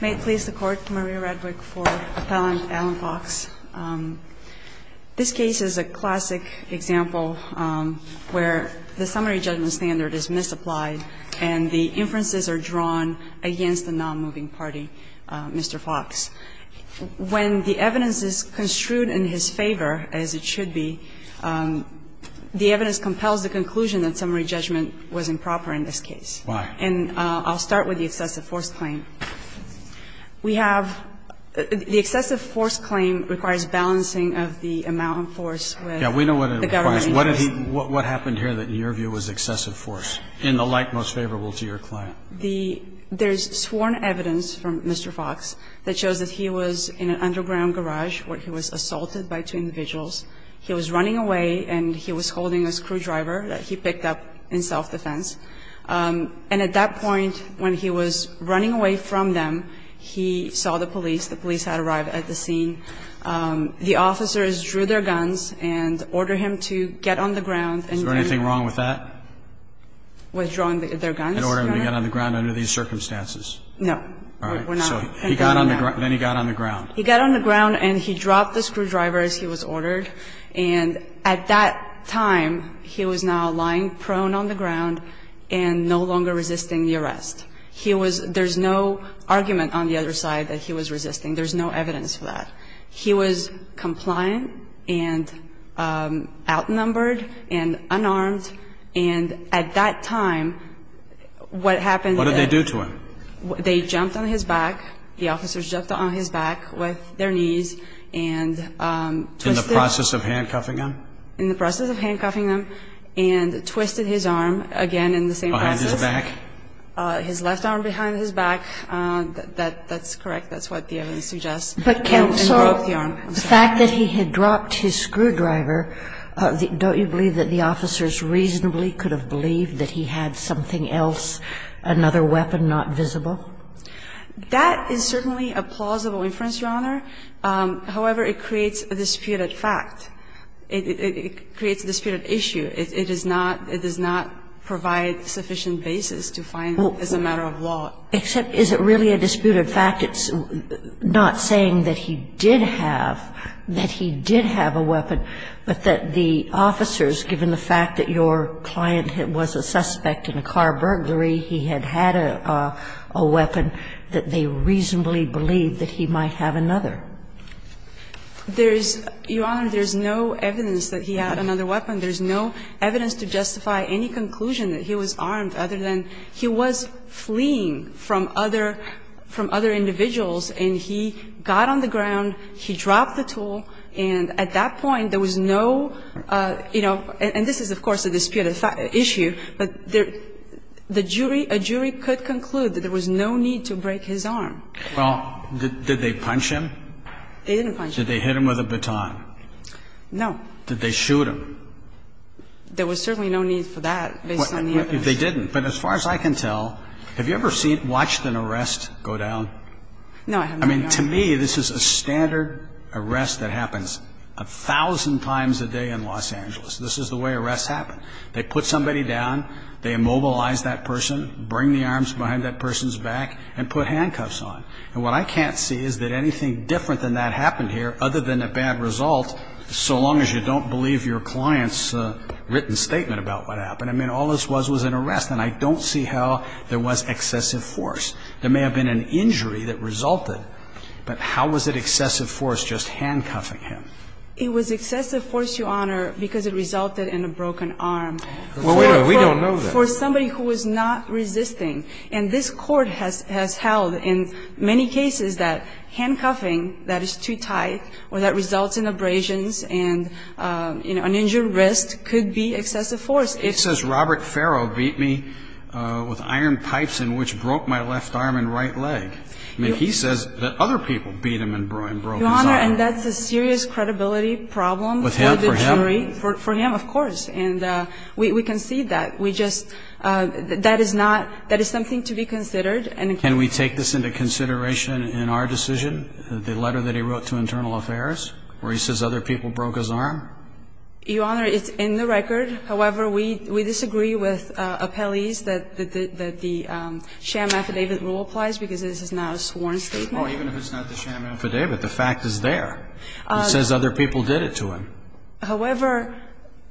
May it please the Court, Maria Radwick for Appellant Alan Fox. This case is a classic example where the summary judgment standard is misapplied and the inferences are drawn against the nonmoving party, Mr. Fox. When the evidence is construed in his favor, as it should be, the evidence compels the conclusion that summary judgment was improper in this case. Why? And I'll start with the excessive force claim. We have the excessive force claim requires balancing of the amount of force with the government agency. What happened here that in your view was excessive force, in the light most favorable to your client? There's sworn evidence from Mr. Fox that shows that he was in an underground garage where he was assaulted by two individuals. He was running away and he was holding a screwdriver that he picked up in self-defense. And at that point, when he was running away from them, he saw the police. The police had arrived at the scene. The officers drew their guns and ordered him to get on the ground and then --. Is there anything wrong with that? Withdrawing their guns? And ordering him to get on the ground under these circumstances. No. All right. So he got on the ground. Then he got on the ground. He got on the ground and he dropped the screwdriver, as he was ordered. And at that time, he was now lying prone on the ground and no longer resisting the arrest. There's no argument on the other side that he was resisting. There's no evidence for that. He was compliant and outnumbered and unarmed. And at that time, what happened --. What did they do to him? They jumped on his back. The officers jumped on his back with their knees and twisted. In the process of handcuffing him? In the process of handcuffing him and twisted his arm again in the same process. Behind his back? His left arm behind his back. That's correct. That's what the evidence suggests. And broke the arm. The fact that he had dropped his screwdriver, don't you believe that the officers reasonably could have believed that he had something else, another weapon not visible? That is certainly a plausible inference, Your Honor. However, it creates a disputed fact. It creates a disputed issue. It does not provide sufficient basis to find that as a matter of law. Except is it really a disputed fact? It's not saying that he did have, that he did have a weapon, but that the officers, given the fact that your client was a suspect in a car burglary, he had had a weapon, that they reasonably believed that he might have another. There is, Your Honor, there is no evidence that he had another weapon. There is no evidence to justify any conclusion that he was armed other than he was fleeing from other individuals and he got on the ground, he dropped the tool, and at that point there was no, you know, and this is, of course, a disputed issue, but the jury, a jury could conclude that there was no need to break his arm. Well, did they punch him? They didn't punch him. Did they hit him with a baton? No. Did they shoot him? There was certainly no need for that, based on the evidence. They didn't. But as far as I can tell, have you ever seen, watched an arrest go down? No, I have not, Your Honor. I mean, to me, this is a standard arrest that happens a thousand times a day in Los Angeles. This is the way arrests happen. They put somebody down, they immobilize that person, bring the arms behind that person's back and put handcuffs on. And what I can't see is that anything different than that happened here, other than a bad result, so long as you don't believe your client's written statement about what happened. I mean, all this was was an arrest, and I don't see how there was excessive force. There may have been an injury that resulted, but how was it excessive force just handcuffing him? It was excessive force, Your Honor, because it resulted in a broken arm. Well, we don't know that. For somebody who was not resisting, and this Court has held in many cases that handcuffing that is too tight or that results in abrasions and, you know, an injured wrist could be excessive force. It says Robert Farrow beat me with iron pipes in which broke my left arm and right leg. I mean, he says that other people beat him and broke his arm. Your Honor, and that's a serious credibility problem for the jury. With him, for him? For him, of course. And we concede that. We just – that is not – that is something to be considered. Can we take this into consideration in our decision, the letter that he wrote to Internal Affairs, where he says other people broke his arm? Your Honor, it's in the record. However, we disagree with appellees that the sham affidavit rule applies because this is not a sworn statement. Well, even if it's not the sham affidavit, the fact is there. It says other people did it to him. However,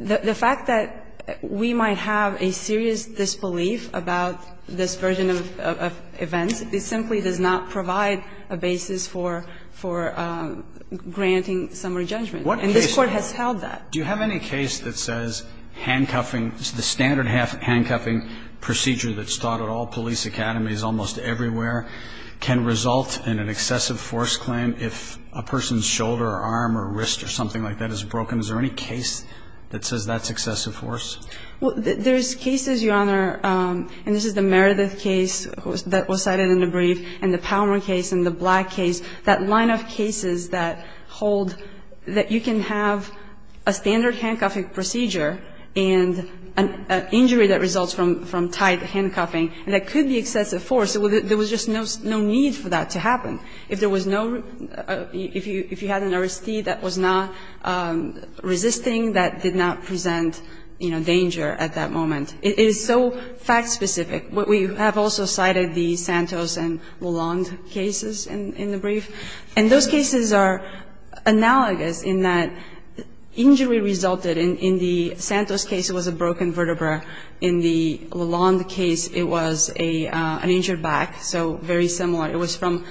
the fact that we might have a serious disbelief about this version of events, it simply does not provide a basis for granting summary judgment. And this Court has held that. Do you have any case that says handcuffing, the standard handcuffing procedure that's taught at all police academies almost everywhere, can result in an excessive force claim if a person's shoulder or arm or wrist or something like that is broken? Is there any case that says that's excessive force? Well, there's cases, Your Honor, and this is the Meredith case that was cited in the brief and the Palmer case and the Black case, that line of cases that hold that you can have a standard handcuffing procedure and an injury that results from tight handcuffing and that could be excessive force. There was just no need for that to happen. If there was no, if you had an arrestee that was not resisting, that did not present danger at that moment. It is so fact specific. We have also cited the Santos and Lalonde cases in the brief. And those cases are analogous in that injury resulted in the Santos case was a broken vertebra. In the Lalonde case, it was an injured back, so very similar. It was from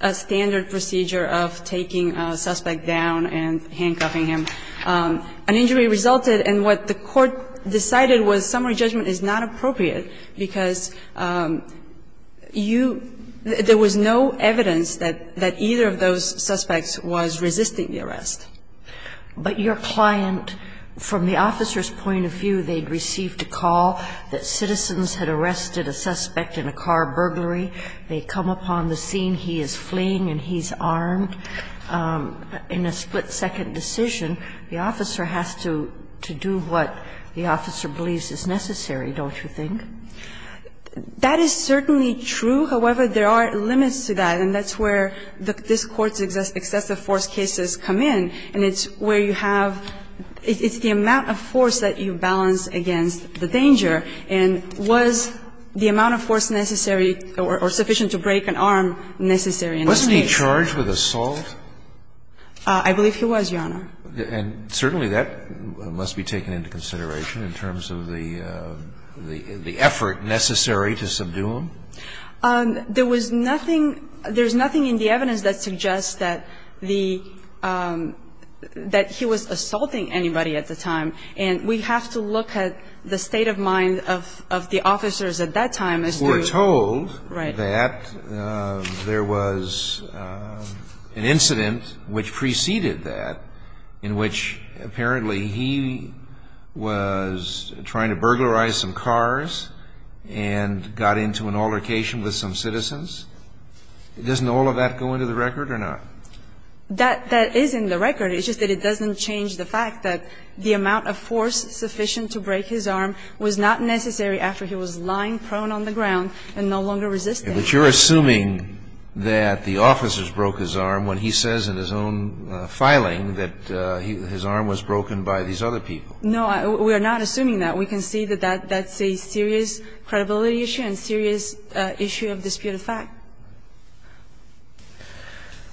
a standard procedure of taking a suspect down and handcuffing him. An injury resulted, and what the court decided was summary judgment is not appropriate because you, there was no evidence that either of those suspects was resisting the arrest. But your client, from the officer's point of view, they'd received a call that citizens had arrested a suspect in a car burglary. They come upon the scene, he is fleeing and he's armed. In a split-second decision, the officer has to do what the officer believes is necessary, don't you think? That is certainly true. However, there are limits to that, and that's where this Court's excessive force cases come in, and it's where you have, it's the amount of force that you balance against the danger. And was the amount of force necessary or sufficient to break an arm necessary in that case? Wasn't he charged with assault? I believe he was, Your Honor. And certainly that must be taken into consideration in terms of the effort necessary to subdue him? There was nothing, there's nothing in the evidence that suggests that the, that he was in a state of mind of, of the officers at that time. We're told that there was an incident which preceded that, in which apparently he was trying to burglarize some cars and got into an altercation with some citizens. Doesn't all of that go into the record or not? That, that is in the record. It's just that it doesn't change the fact that the amount of force sufficient to break his arm was not necessary after he was lying prone on the ground and no longer resisting. But you're assuming that the officers broke his arm when he says in his own filing that his arm was broken by these other people. No, we're not assuming that. We can see that that's a serious credibility issue and serious issue of disputed fact.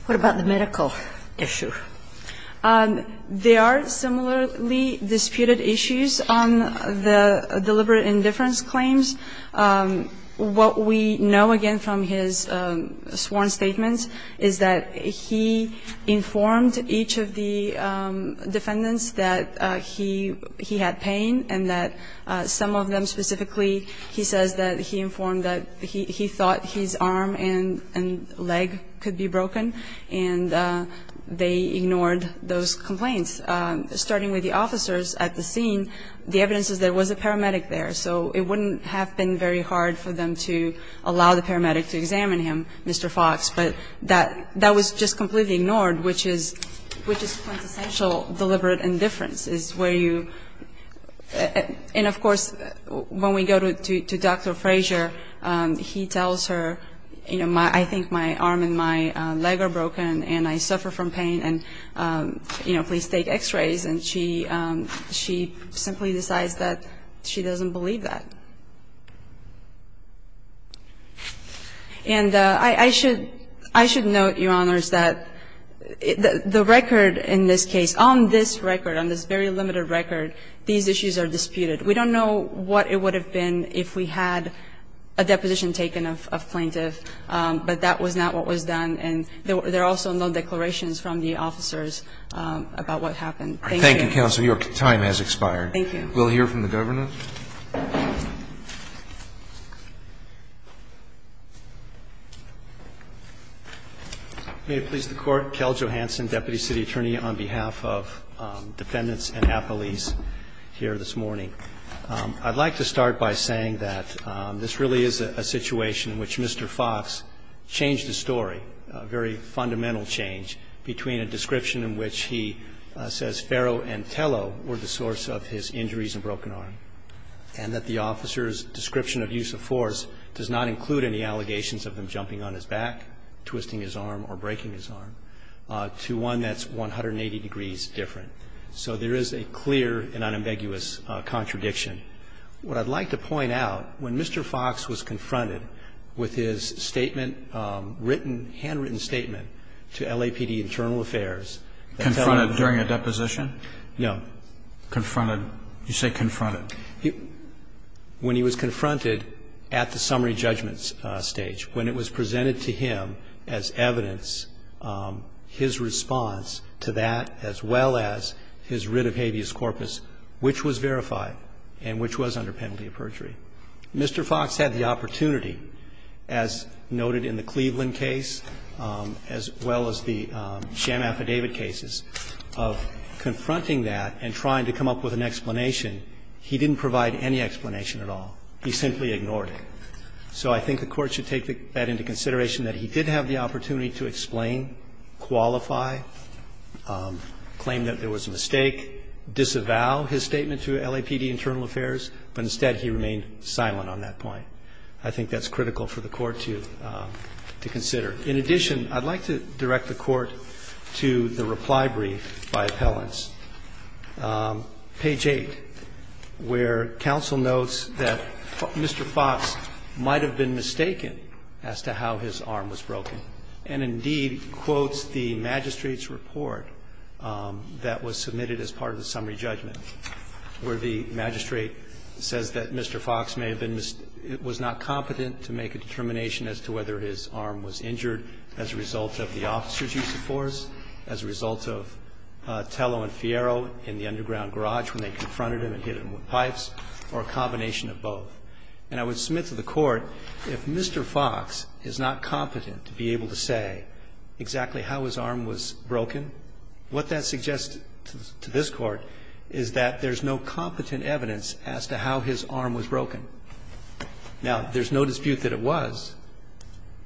What about the medical issue? There are similarly disputed issues on the deliberate indifference claims. What we know, again, from his sworn statements is that he informed each of the defendants that he, he had pain and that some of them specifically, he says that he informed that he, he thought his arm and, and leg could be broken. And they ignored those complaints. Starting with the officers at the scene, the evidence is there was a paramedic there. So it wouldn't have been very hard for them to allow the paramedic to examine him, Mr. Fox, but that, that was just completely ignored, which is, which is quintessential deliberate indifference is where you, and of course, when we go to Dr. Frazier, he tells her, you know, my, I think my arm and my leg are broken and I suffer from pain and, you know, please take x-rays. And she, she simply decides that she doesn't believe that. And I should, I should note, Your Honors, that the record in this case, on this record, on this very limited record, these issues are disputed. We don't know what it would have been if we had a deposition taken of, of plaintiff, but that was not what was done. And there were, there are also no declarations from the officers about what happened. Thank you. Roberts. Thank you, counsel. Your time has expired. Thank you. We'll hear from the Governor. May it please the Court. Kel Johanson, Deputy City Attorney, on behalf of defendants and appellees here this morning. I'd like to start by saying that this really is a situation in which Mr. Fox changed a story, a very fundamental change, between a description in which he says Ferro and Tello were the source of his injuries and broken arm, and that the officer's description of use of force does not include any allegations of him jumping on his back, twisting his arm or breaking his arm, to one that's 180 degrees different. So there is a clear and unambiguous contradiction. What I'd like to point out, when Mr. Fox was confronted with his statement, written, handwritten statement, to LAPD Internal Affairs. Confronted during a deposition? No. Confronted. You say confronted. When he was confronted at the summary judgment stage, when it was presented to him as evidence, his response to that, as well as his writ of habeas corpus, which was verified and which was under penalty of perjury. Mr. Fox had the opportunity, as noted in the Cleveland case, as well as the sham affidavit cases, of confronting that and trying to come up with an explanation. He didn't provide any explanation at all. He simply ignored it. So I think the Court should take that into consideration, that he did have the opportunity to explain, qualify, claim that there was a mistake, disavow his statement to LAPD Internal Affairs, but instead he remained silent on that point. I think that's critical for the Court to consider. In addition, I'd like to direct the Court to the reply brief by appellants. Page 8, where counsel notes that Mr. Fox might have been mistaken as to how his arm was broken, and indeed quotes the magistrate's report that was submitted as part of the summary judgment, where the magistrate says that Mr. Fox may have been ---- was not competent to make a determination as to whether his arm was injured as a result of the in the underground garage when they confronted him and hit him with pipes, or a combination of both. And I would submit to the Court, if Mr. Fox is not competent to be able to say exactly how his arm was broken, what that suggests to this Court is that there's no competent evidence as to how his arm was broken. Now, there's no dispute that it was,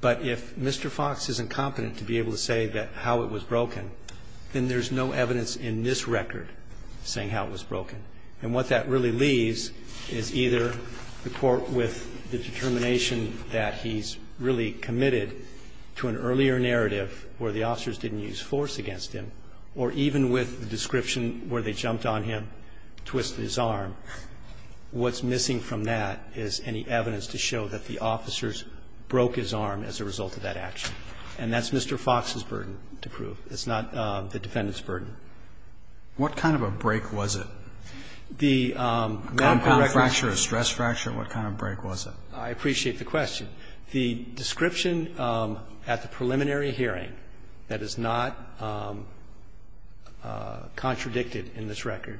but if Mr. Fox isn't competent to be able to say how it was broken, then there's no evidence in this record saying how it was broken. And what that really leaves is either the Court with the determination that he's really committed to an earlier narrative where the officers didn't use force against him, or even with the description where they jumped on him, twisted his arm. What's missing from that is any evidence to show that the officers broke his arm as a result of that action. And that's Mr. Fox's burden to prove. It's not the defendant's burden. Roberts. What kind of a break was it? The medical record. A compound fracture, a stress fracture? What kind of break was it? I appreciate the question. The description at the preliminary hearing that is not contradicted in this record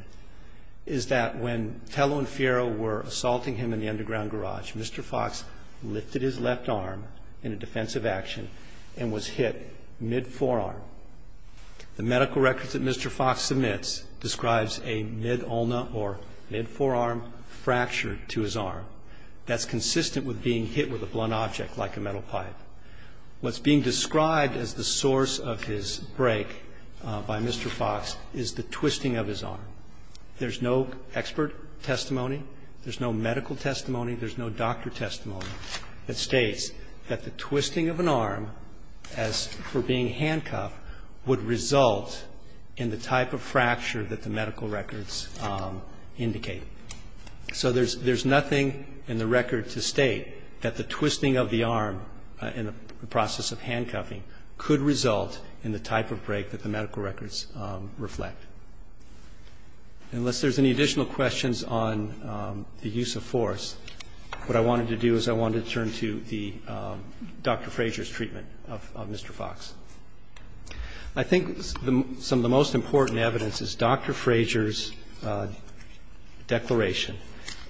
is that when Tello and Fiero were assaulting him in the underground garage, Mr. Fox lifted his left arm in a defensive action and was hit mid-forearm. The medical record that Mr. Fox submits describes a mid-ulna or mid-forearm fracture to his arm. That's consistent with being hit with a blunt object like a metal pipe. What's being described as the source of his break by Mr. Fox is the twisting of his arm. There's no expert testimony. There's no medical testimony. There's no doctor testimony that states that the twisting of an arm as for being handcuffed would result in the type of fracture that the medical records indicate. So there's nothing in the record to state that the twisting of the arm in the process of handcuffing could result in the type of break that the medical records reflect. Unless there's any additional questions on the use of force, what I wanted to do is I wanted to turn to the Dr. Frazier's treatment of Mr. Fox. I think some of the most important evidence is Dr. Frazier's declaration,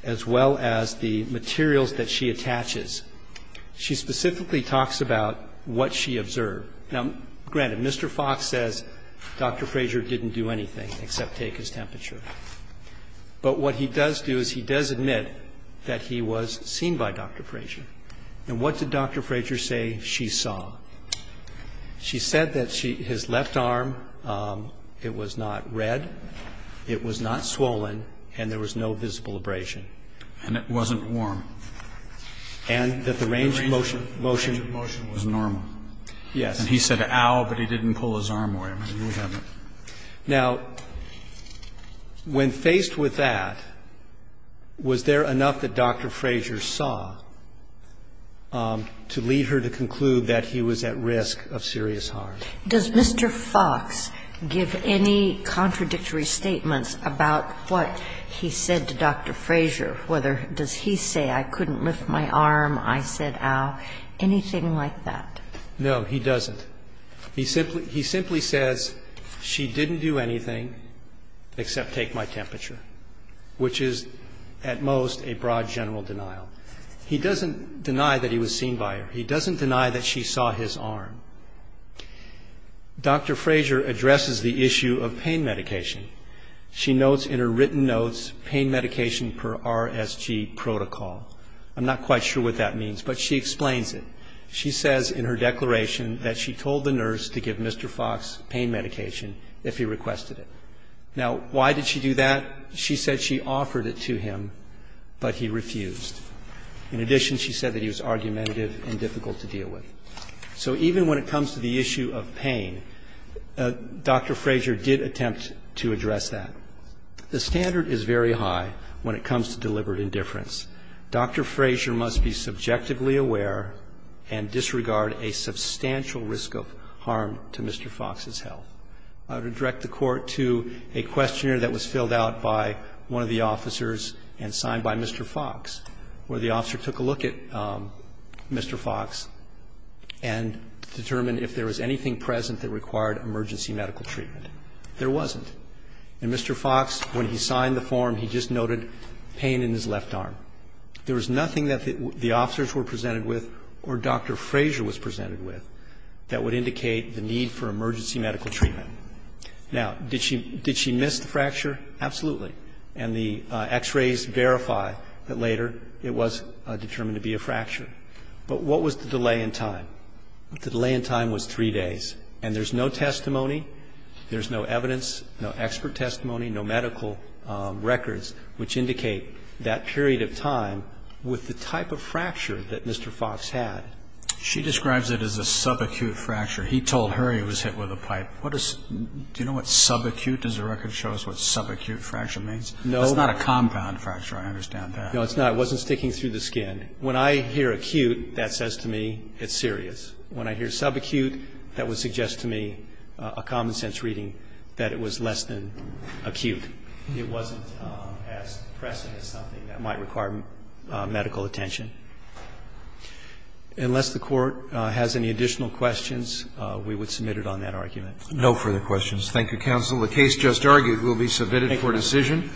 as well as the materials that she attaches. She specifically talks about what she observed. Now, granted, Mr. Fox says Dr. Frazier didn't do anything except take his temperature. But what he does do is he does admit that he was seen by Dr. Frazier. And what did Dr. Frazier say she saw? She said that his left arm, it was not red, it was not swollen, and there was no visible abrasion. And it wasn't warm. And that the range of motion was normal. Yes. And he said, ow, but he didn't pull his arm away. Now, when faced with that, was there enough that Dr. Frazier saw to lead her to conclude that he was at risk of serious harm? Does Mr. Fox give any contradictory statements about what he said to Dr. Frazier, whether does he say I couldn't lift my arm, I said ow, anything like that? No, he doesn't. He simply says she didn't do anything except take my temperature, which is at most a broad general denial. He doesn't deny that he was seen by her. He doesn't deny that she saw his arm. Dr. Frazier addresses the issue of pain medication. She notes in her written notes pain medication per RSG protocol. I'm not quite sure what that means, but she explains it. She says in her declaration that she told the nurse to give Mr. Fox pain medication if he requested it. Now, why did she do that? She said she offered it to him, but he refused. In addition, she said that he was argumentative and difficult to deal with. So even when it comes to the issue of pain, Dr. Frazier did attempt to address that. The standard is very high when it comes to deliberate indifference. Dr. Frazier must be subjectively aware and disregard a substantial risk of harm to Mr. Fox's health. I would direct the Court to a questionnaire that was filled out by one of the officers and signed by Mr. Fox, where the officer took a look at Mr. Fox and determined if there was anything present that required emergency medical treatment. There wasn't. And Mr. Fox, when he signed the form, he just noted pain in his left arm. There was nothing that the officers were presented with or Dr. Frazier was presented with that would indicate the need for emergency medical treatment. Now, did she miss the fracture? Absolutely. And the X-rays verify that later it was determined to be a fracture. But what was the delay in time? The delay in time was three days. And there's no testimony, there's no evidence, no expert testimony, no medical records which indicate that period of time with the type of fracture that Mr. Fox had. She describes it as a subacute fracture. He told her he was hit with a pipe. Do you know what subacute? Does the record show us what subacute fracture means? No. It's not a compound fracture. I understand that. No, it's not. It wasn't sticking through the skin. When I hear acute, that says to me it's serious. When I hear subacute, that would suggest to me a common sense reading that it was less than acute. It wasn't as pressing as something that might require medical attention. Unless the Court has any additional questions, we would submit it on that argument. No further questions. Thank you, counsel. The case just argued will be submitted for decision.